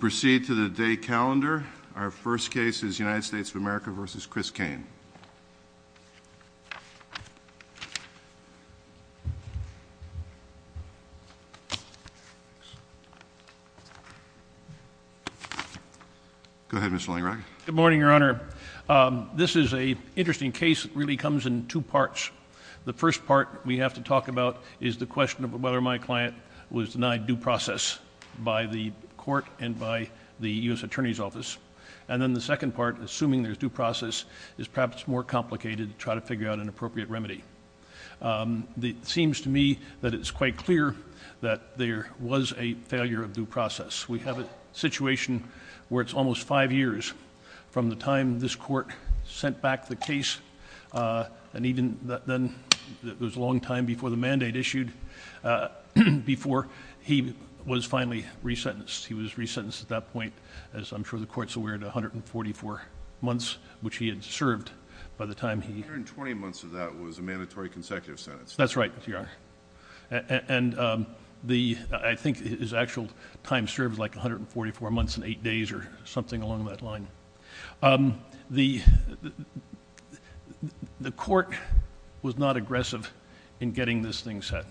Proceed to the day calendar. Our first case is United States of America v. Chris Cain. Good morning, Your Honor. This is an interesting case. It really comes in two parts. The first part we have to talk about is the question of whether my client was denied due process by the court and by the U.S. Attorney's Office. And then the second part, assuming there's due process, is perhaps more complicated to try to figure out an appropriate remedy. It seems to me that it's quite clear that there was a failure of due process. We have a situation where it's almost five years from the time this court sent back the case and even then, it was a long time before the mandate issued, before he was finally re-sentenced. He was re-sentenced at that point, as I'm sure the Court's aware, to 144 months, which he had served by the time he... A hundred and twenty months of that was a mandatory consecutive sentence. That's right, Your Honor. And I think his actual time served was like 144 months and aggressive in getting this thing set.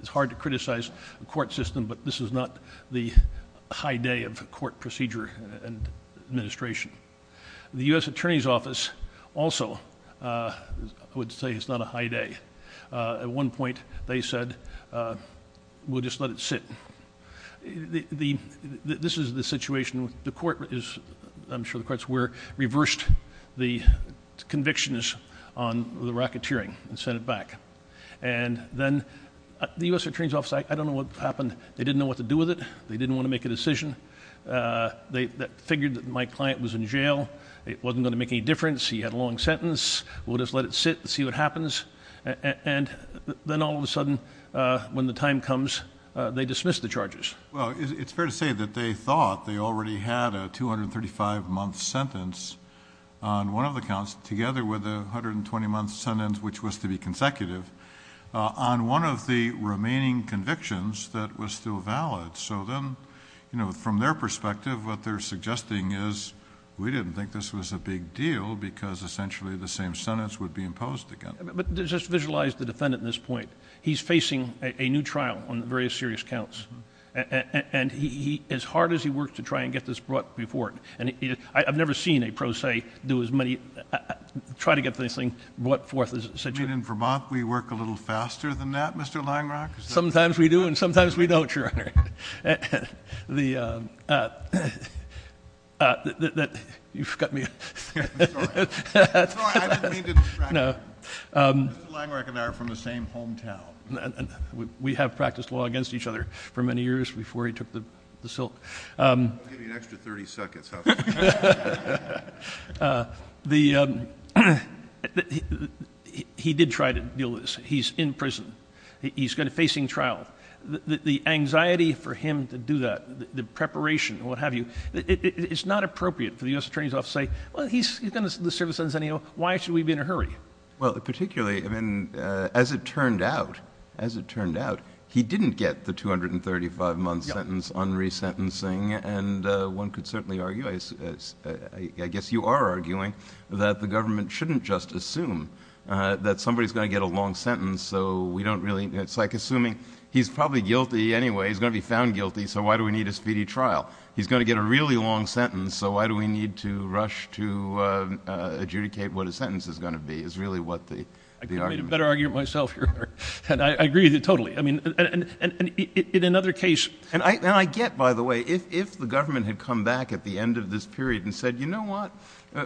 It's hard to criticize the court system, but this is not the high day of court procedure and administration. The U.S. Attorney's Office also would say it's not a high day. At one point, they said, we'll just let it sit. This is the situation... I'm sure the Court's aware... reversed the convictions on the racketeering and sent it back. And then, the U.S. Attorney's Office, I don't know what happened. They didn't know what to do with it. They didn't want to make a decision. They figured that my client was in jail. It wasn't going to make any difference. He had a long sentence. We'll just let it sit and see what happens. And then, all of a sudden, when the time comes, they dismiss the charges. Well, it's fair to say that they thought they already had a 235-month sentence on one of the counts, together with a 120-month sentence, which was to be consecutive, on one of the remaining convictions that was still valid. So then, from their perspective, what they're suggesting is, we didn't think this was a big deal because, essentially, the same sentence would be imposed again. But just visualize the defendant at this point. He's facing a new trial on various serious counts. And he, as hard as he works to try and get this brought before him. And I've never seen a pro se do as many, try to get this thing brought forth as such. You mean, in Vermont, we work a little faster than that, Mr. Langrock? Sometimes we do, and sometimes we don't, Your Honor. I'm sorry. I didn't mean to distract you. Mr. Langrock and I are from the same hometown. We have practiced law against each other for many years, before he took the silk. I'll give you an extra 30 seconds. He did try to deal with this. He's in prison. He's facing trial. The anxiety for him to do that, the preparation, what have you, it's not appropriate for the U.S. Attorney's Office to say, well, he's going to serve a sentence anyway. Why should we be in a hurry? Well, particularly, as it turned out, he didn't get the 235-month sentence on resentencing. And one could certainly argue, I guess you are arguing, that the government shouldn't just assume that somebody's going to get a long sentence. It's like assuming he's probably guilty anyway. He's going to be found guilty, so why do we need a speedy trial? He's going to get a really long sentence, so why do we need to rush to adjudicate what a sentence is going to be, is really what the argument is. I couldn't have made a better argument myself, Your Honor. And I agree totally. I mean, in another case... And I get, by the way, if the government had come back at the end of this period and said, you know what,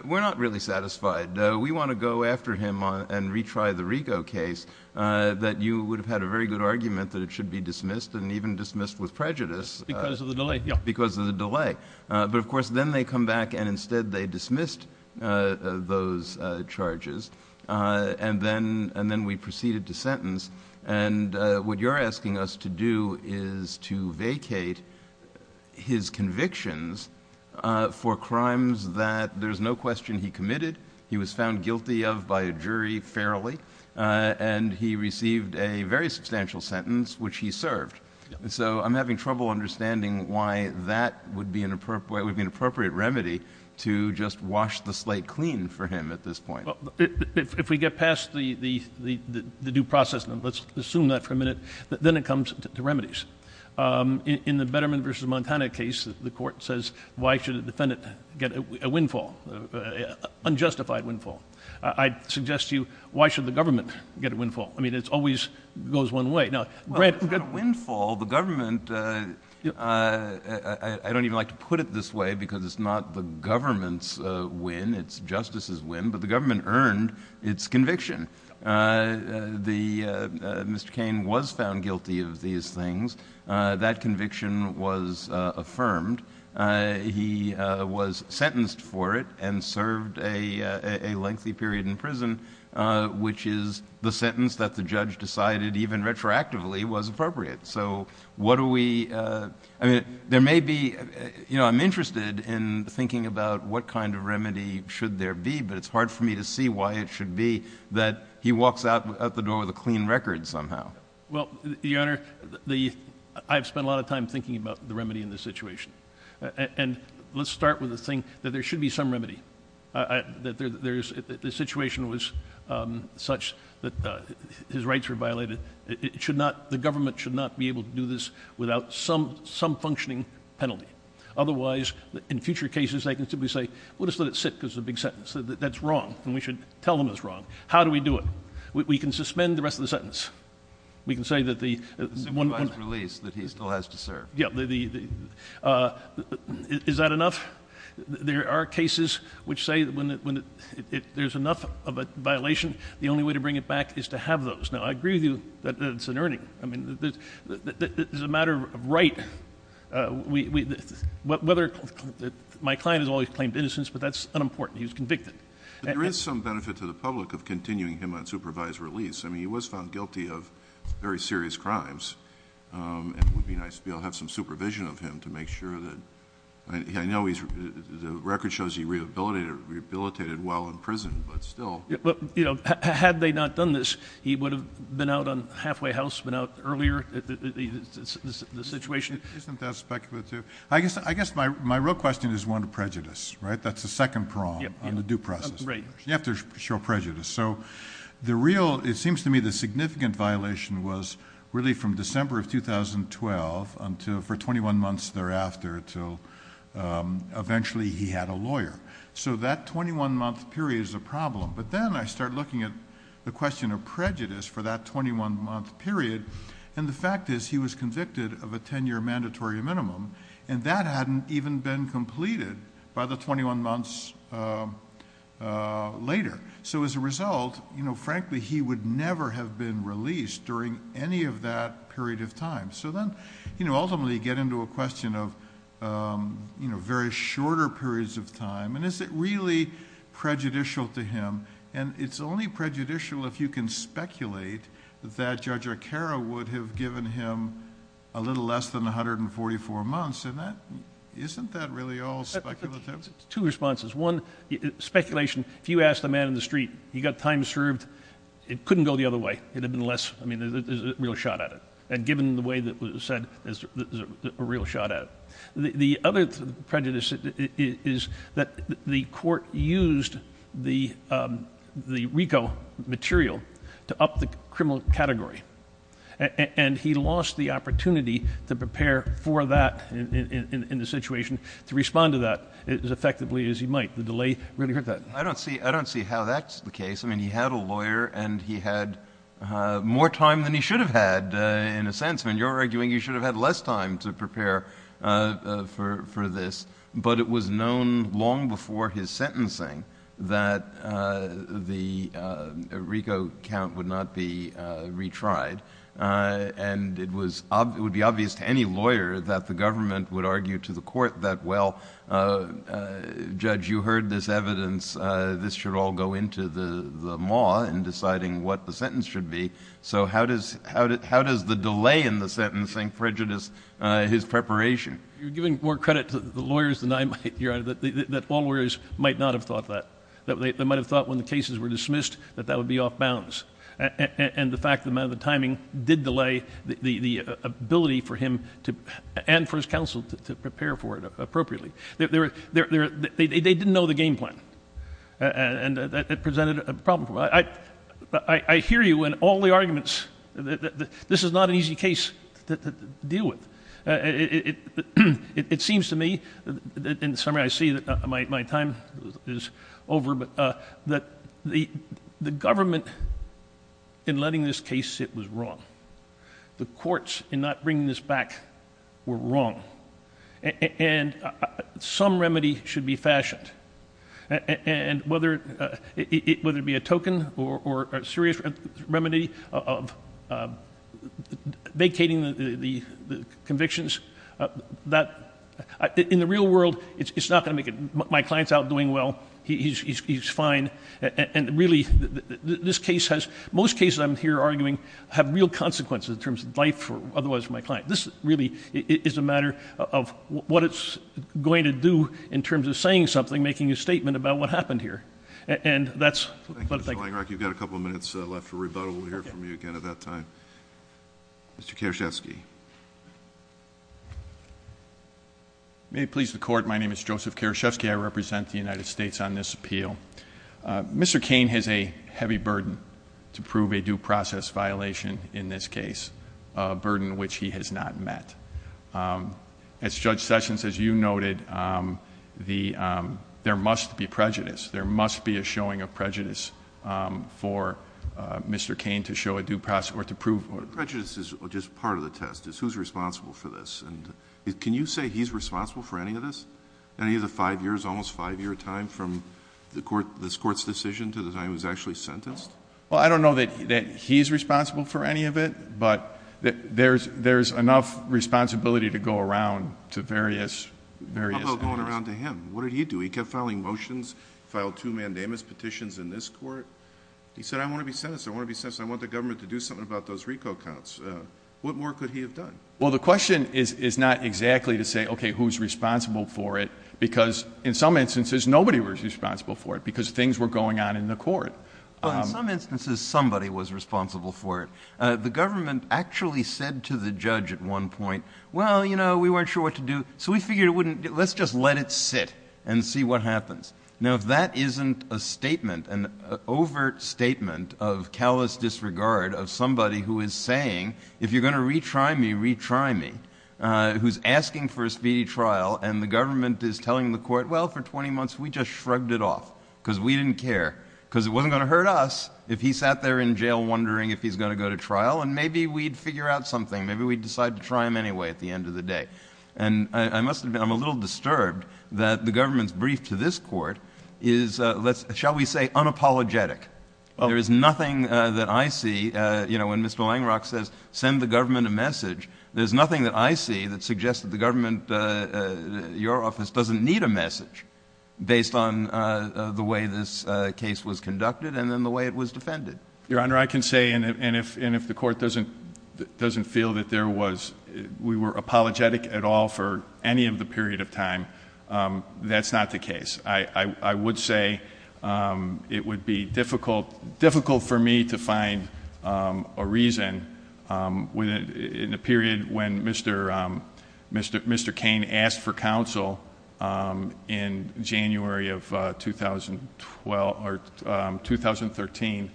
we're not really satisfied. We want to go after him and retry the Rigo case, that you would have had a very good argument that it should be dismissed, and even dismissed with prejudice. Because of the delay. Because of the delay. But, of course, then they come back and instead they dismissed those charges, and then we proceeded to sentence. And what you're asking us to do is to vacate his convictions for crimes that there's no question he committed, he was found guilty of by a jury fairly, and he received a very substantial sentence, which he served. So I'm having trouble understanding why that would be an appropriate remedy to just wash the slate clean for him at this point. Well, if we get past the due process, and let's assume that for a minute, then it comes to remedies. In the Betterman v. Montana case, the Court says, why should a defendant get a windfall, an unjustified windfall? I suggest to you, why should the government get a windfall? I mean, it always goes one way. Well, it's not a windfall. The government, I don't even like to put it this way, because it's not the government's win, it's justice's win, but the government earned its conviction. Mr. Cain was found guilty of these things. That conviction was affirmed. He was sentenced for it, and served a lengthy period in prison, which is the sentence that the judge decided even retroactively was appropriate. So what do we, I mean, there may be, you know, I'm interested in thinking about what kind of remedy should there be, but it's hard for me to see why it should be that he walks out the door with a clean record somehow. Well, Your Honor, I've spent a lot of time thinking about the remedy in this situation. And let's start with the thing that there should be some remedy. The situation was such that his rights were violated. It should not, the government should not be able to do this without some functioning penalty. Otherwise, in future cases, they can simply say, we'll just let it sit because it's a big sentence. That's wrong, and we should tell them it's wrong. How do we do it? We can suspend the rest of the sentence. We can say that the one- The supervised release that he still has to serve. Yeah. Is that enough? There are cases which say that when there's enough of a violation, the only way to bring it back is to have those. Now, I agree with you that it's an earning. I mean, it's a matter of right. Whether, my client has always claimed innocence, but that's unimportant. He was convicted. There is some benefit to the public of continuing him on supervised release. I mean, he was found guilty of very serious crimes, and it would be nice to be able to have some supervision of him to make sure that, I know the record shows he rehabilitated while in prison, but still. Had they not done this, he would have been out on halfway house, been out earlier, the situation. Isn't that speculative? I guess my real question is one of prejudice, right? That's the second prong on the due process. Right. You have to show prejudice. It seems to me the significant violation was really from December of 2012 for 21 months thereafter until eventually he had a lawyer. That 21 month period is a problem, but then I start looking at the question of prejudice for that 21 month period, and the fact is, he was convicted of a 10 year mandatory minimum, and that hadn't even been completed by the 21 months later. As a result, frankly, he would never have been released during any of that period of time. Ultimately, you get into a question of very shorter periods of time, and is it really prejudicial to him? It's only prejudicial if you can speculate that Judge Arcaro would have given him a little less than 144 months. Isn't that really all speculative? Two responses. One, speculation. If you ask the man in the street, he got time served, it couldn't go the other way. There's a real shot at it, and given the way that was said, there's a real shot at it. The other prejudice is that the court used the RICO material to up the criminal category, and he lost the opportunity to prepare for that in the situation, to respond to that as effectively as he might. The delay really hurt that. I don't see how that's the case. He had a lawyer, and he had more time than he should have had, in a sense. You're arguing he should have had less time to prepare for this, but it was known long before his sentencing that the RICO count would not be retried. It would be obvious to any lawyer that the government would argue to the court that, well, Judge, you heard this evidence. This should all go into the maw in deciding what the sentence should be. So how does the delay in the sentencing prejudice his preparation? You're giving more credit to the lawyers than I might, Your Honor, that all lawyers might not have thought that. They might have thought when the cases were dismissed that that would be off-bounds, and the fact that the amount of the timing did delay the ability for him and for his counsel to prepare for it appropriately. They didn't know the game plan, and it presented a problem for them. I hear you in all the arguments that this is not an easy case to deal with. It seems to me, in summary, I see that my time is over, but the government, in letting this case sit, was wrong. The courts, in not bringing this back, were wrong, and some remedy should be fashioned, whether it be a token or a serious remedy of vacating the convictions. In the real world, it's not going to make it. My client's out doing well. He's fine, and really, most cases I'm here arguing have real consequences in terms of life, otherwise, for my client. This really is a matter of what it's going to do in terms of saying something, making a statement about what happened here, and that's what I think. Thank you, Mr. Langrock. You've got a couple of minutes left for rebuttal. We'll hear from you again at that time. Mr. Karaszewski. May it please the Court, my name is Joseph Karaszewski. I represent the United States on this appeal. Mr. Cain has a heavy burden to prove a due process violation in this case, a burden which he has not met. As Judge Sessions, as you noted, there must be prejudice. There must be a showing of prejudice for Mr. Cain to show a due process or to prove. Prejudice is just part of the test. It's who's responsible for this. Can you say he's responsible for any of this, any of the five years, almost five year time from this Court's decision to the time he was actually sentenced? I don't know that he's responsible for any of it, but there's enough responsibility to go around to various areas. How about going around to him? What did he do? He kept filing motions, filed two mandamus petitions in this Court. He said, I want to be sentenced. I want to be sentenced. What more could he have done? Well, the question is not exactly to say, okay, who's responsible for it, because in some instances, nobody was responsible for it because things were going on in the Court. Well, in some instances, somebody was responsible for it. The government actually said to the judge at one point, well, you know, we weren't sure what to do, so we figured let's just let it sit and see what happens. Now, if that isn't a statement, an overt statement of callous disregard of somebody who is saying, if you're going to retry me, retry me, who's asking for a speedy trial, and the government is telling the Court, well, for 20 months, we just shrugged it off because we didn't care because it wasn't going to hurt us if he sat there in jail wondering if he's going to go to trial, and maybe we'd figure out something. Maybe we'd decide to try him anyway at the end of the day. And I must admit I'm a little disturbed that the government's brief to this Court is, shall we say, unapologetic. There is nothing that I see, you know, when Mr. Langrock says send the government a message, there's nothing that I see that suggests that the government, your office, doesn't need a message based on the way this case was conducted and then the way it was defended. Your Honor, I can say, and if the Court doesn't feel that there was, we were apologetic at all for any of the period of time, that's not the case. I would say it would be difficult for me to find a reason in the period when Mr. Cain asked for counsel in January of 2013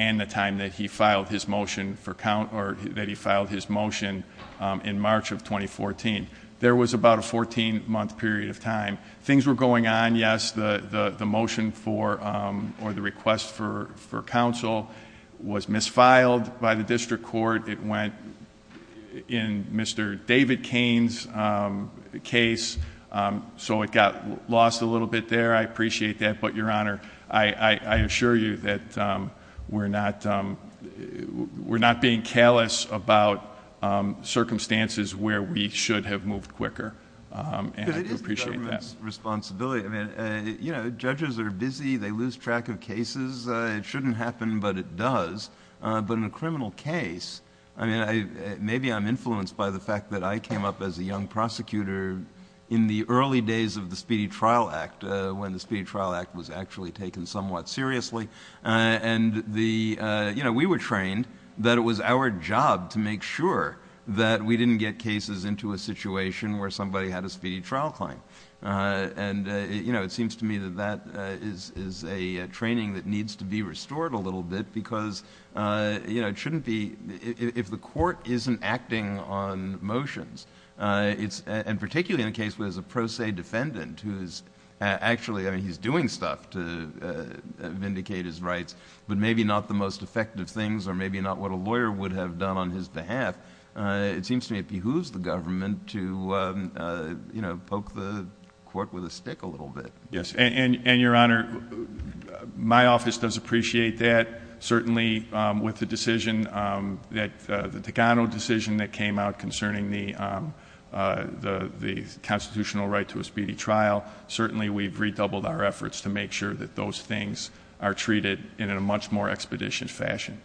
and the time that he filed his motion in March of 2014. There was about a 14-month period of time. Things were going on, yes, the motion for or the request for counsel was misfiled by the District Court. It went in Mr. David Cain's case, so it got lost a little bit there. I appreciate that, but, Your Honor, I assure you that we're not being callous about circumstances where we should have moved quicker and I do appreciate that. It is the government's responsibility. Judges are busy, they lose track of cases. It shouldn't happen, but it does. In a criminal case, maybe I'm influenced by the fact that I came up as a young prosecutor in the early days of the Speedy Trial Act when the Speedy Trial Act was actually taken somewhat seriously. We were trained that it was our job to make sure that we didn't get cases into a situation where somebody had a speedy trial claim. It seems to me that that is a training that needs to be restored a little bit because it shouldn't be... if the court isn't acting on motions, and particularly in a case where there's a pro se defendant who is actually... I mean, he's doing stuff to vindicate his rights, but maybe not the most effective things or maybe not what a lawyer would have done on his behalf. It seems to me it behooves the government to poke the court with a stick a little bit. Yes, and, Your Honor, my office does appreciate that. Certainly, with the Decano decision that came out concerning the constitutional right to a speedy trial, certainly we've redoubled our efforts to make sure that those things are treated in a much more expeditious fashion.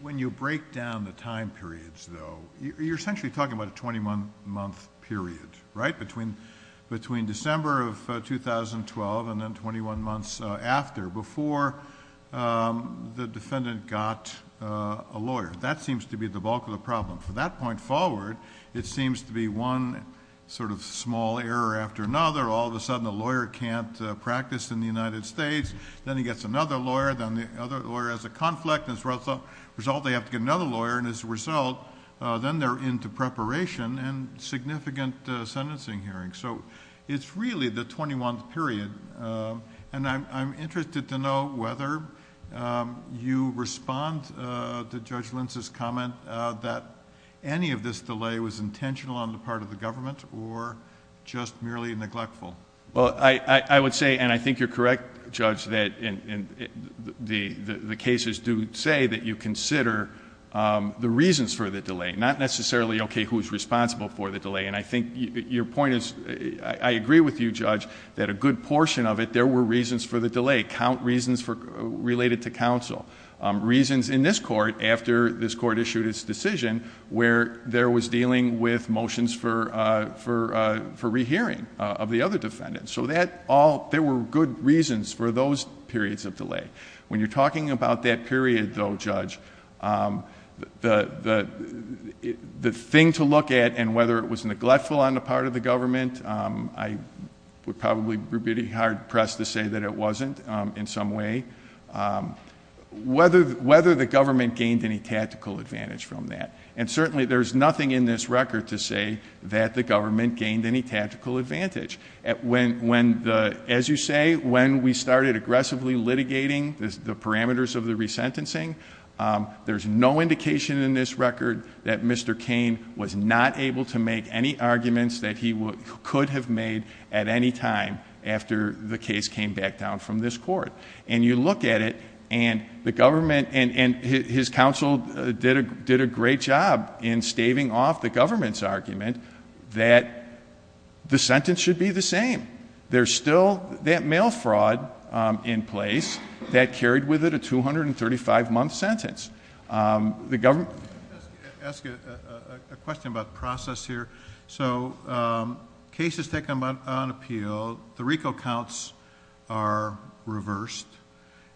When you break down the time periods, though, you're essentially talking about a 21-month period, right, between December of 2012 and then 21 months after, before the defendant got a lawyer. That seems to be the bulk of the problem. From that point forward, it seems to be one small error after another. All of a sudden, the lawyer can't practice in the United States. Then he gets another lawyer. Then the other lawyer has a conflict. As a result, they have to get another lawyer. As a result, then they're into preparation and significant sentencing hearings. It's really the 21-month period. I'm interested to know whether you respond to Judge Lentz's comment that any of this delay was intentional on the part of the government or just merely neglectful. Well, I would say, and I think you're correct, Judge, that the cases do say that you consider the reasons for the delay, not necessarily, okay, who's responsible for the delay. And I think your point is, I agree with you, Judge, that a good portion of it, there were reasons for the delay, reasons related to counsel, reasons in this court after this court issued its decision where there was dealing with motions for rehearing of the other defendants. So there were good reasons for those periods of delay. When you're talking about that period, though, Judge, the thing to look at, and whether it was neglectful on the part of the government, I would probably be pretty hard-pressed to say that it wasn't in some way, whether the government gained any tactical advantage from that. And certainly there's nothing in this record to say that the government gained any tactical advantage. As you say, when we started aggressively litigating the parameters of the resentencing, there's no indication in this record that Mr. Cain was not able to make any arguments that he could have made at any time after the case came back down from this court. And you look at it, and the government and his counsel did a great job in staving off the government's argument that the sentence should be the same. There's still that mail fraud in place that carried with it a 235-month sentence. The government... I'd like to ask you a question about the process here. Cases taken on appeal, the RICO counts are reversed.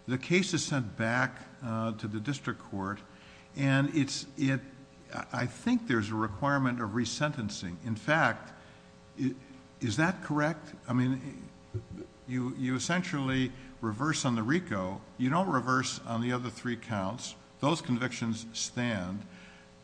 The case is sent back to the district court, and I think there's a requirement of resentencing. In fact, is that correct? I mean, you essentially reverse on the RICO. You don't reverse on the other three counts. Those convictions stand.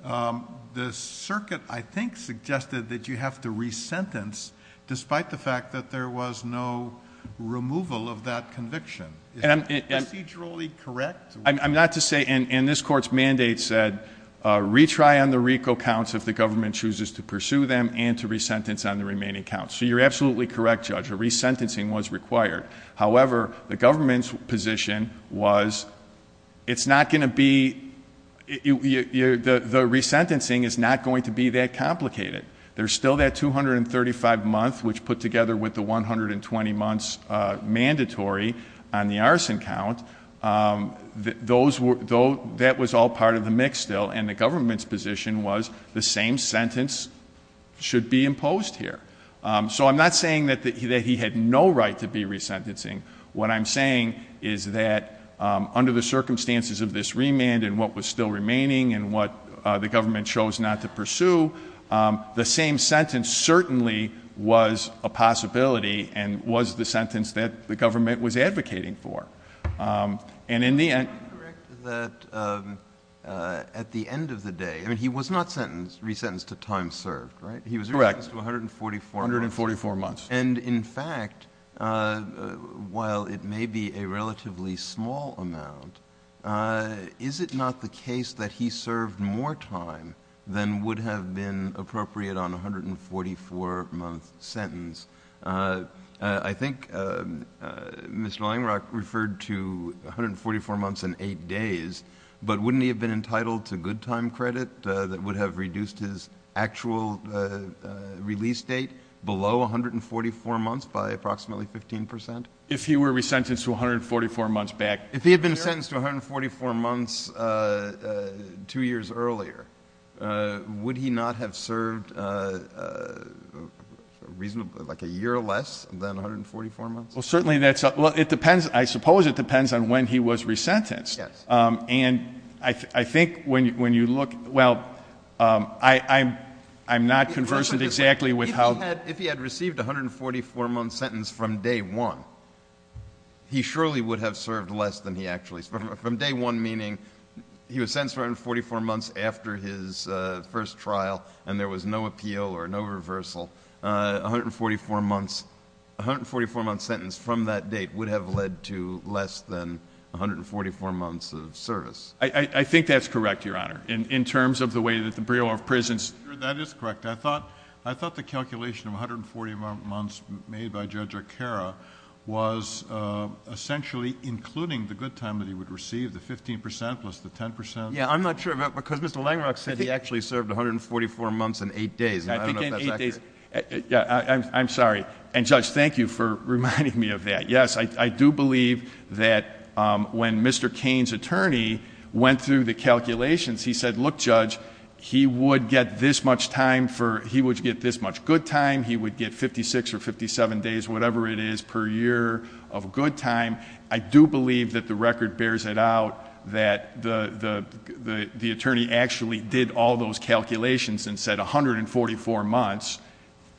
The circuit, I think, suggested that you have to resentence, despite the fact that there was no removal of that conviction. Is that procedurally correct? I'm not to say, and this court's mandate said, retry on the RICO counts if the government chooses to pursue them and to resentence on the remaining counts. So you're absolutely correct, Judge. A resentencing was required. However, the government's position was it's not going to be... the resentencing is not going to be that complicated. There's still that 235-month, which put together with the 120-month mandatory on the arson count. That was all part of the mix still, and the government's position was the same sentence should be imposed here. So I'm not saying that he had no right to be resentencing. What I'm saying is that under the circumstances of this remand and what was still remaining and what the government chose not to pursue, the same sentence certainly was a possibility and was the sentence that the government was advocating for. And in the end... Is it correct that at the end of the day... I mean, he was not resentenced to time served, right? Correct. He was resentenced to 144 months. 144 months. And in fact, while it may be a relatively small amount, is it not the case that he served more time than would have been appropriate on a 144-month sentence? I think Mr. Langrock referred to 144 months and 8 days, but wouldn't he have been entitled to good time credit that would have reduced his actual release date below 144 months by approximately 15 percent? If he were resentenced to 144 months back? If he had been sentenced to 144 months two years earlier, would he not have served a year or less than 144 months? Well, certainly that's up. I suppose it depends on when he was resentenced. Yes. And I think when you look... Well, I'm not conversant exactly with how... If he had received a 144-month sentence from day one, he surely would have served less than he actually served. From day one, meaning he was sentenced for 144 months after his first trial and there was no appeal or no reversal, a 144-month sentence from that date would have led to less than 144 months of service. I think that's correct, Your Honor, in terms of the way that the Bureau of Prisons... That is correct. I thought the calculation of 140 months made by Judge O'Carra was essentially including the good time that he would receive, the 15 percent plus the 10 percent. Yes, I'm not sure because Mr. Langrock said he actually served 144 months and 8 days. I don't know if that's accurate. I'm sorry. And, Judge, thank you for reminding me of that. Yes, I do believe that when Mr. Cain's attorney went through the calculations, he said, look, Judge, he would get this much good time, he would get 56 or 57 days, whatever it is, per year of good time. I do believe that the record bears it out that the attorney actually did all those calculations and said 144 months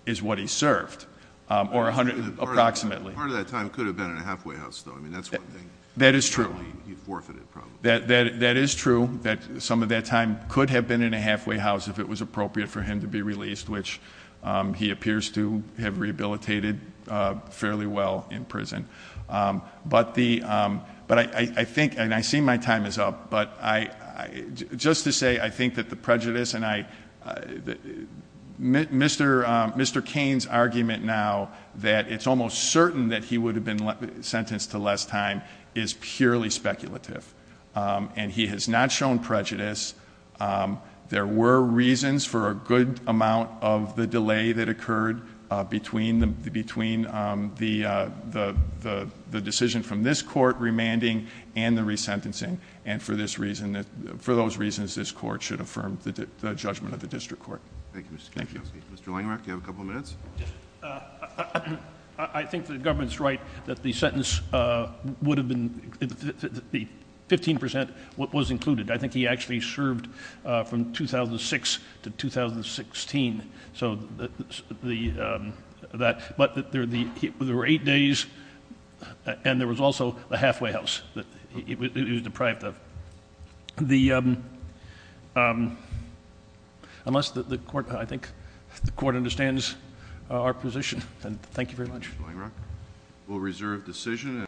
is what he served, or approximately. Part of that time could have been in a halfway house, though. That's one thing. That is true. He forfeited probably. That is true that some of that time could have been in a halfway house if it was appropriate for him to be released, which he appears to have rehabilitated fairly well in prison. But I think, and I see my time is up, but just to say I think that the prejudice and I, Mr. Cain's argument now that it's almost certain that he would have been sentenced to less time is purely speculative. And he has not shown prejudice. There were reasons for a good amount of the delay that occurred between the decision from this court remanding and the resentencing. And for those reasons, this court should affirm the judgment of the district court. Thank you, Mr. Kuczynski. Mr. Langerach, do you have a couple of minutes? I think the government's right that the sentence would have been 15% was included. I think he actually served from 2006 to 2016. But there were eight days and there was also a halfway house that he was deprived of. Unless the court, I think the court understands our position. Thank you very much. Mr. Langerach. We'll reserve decision.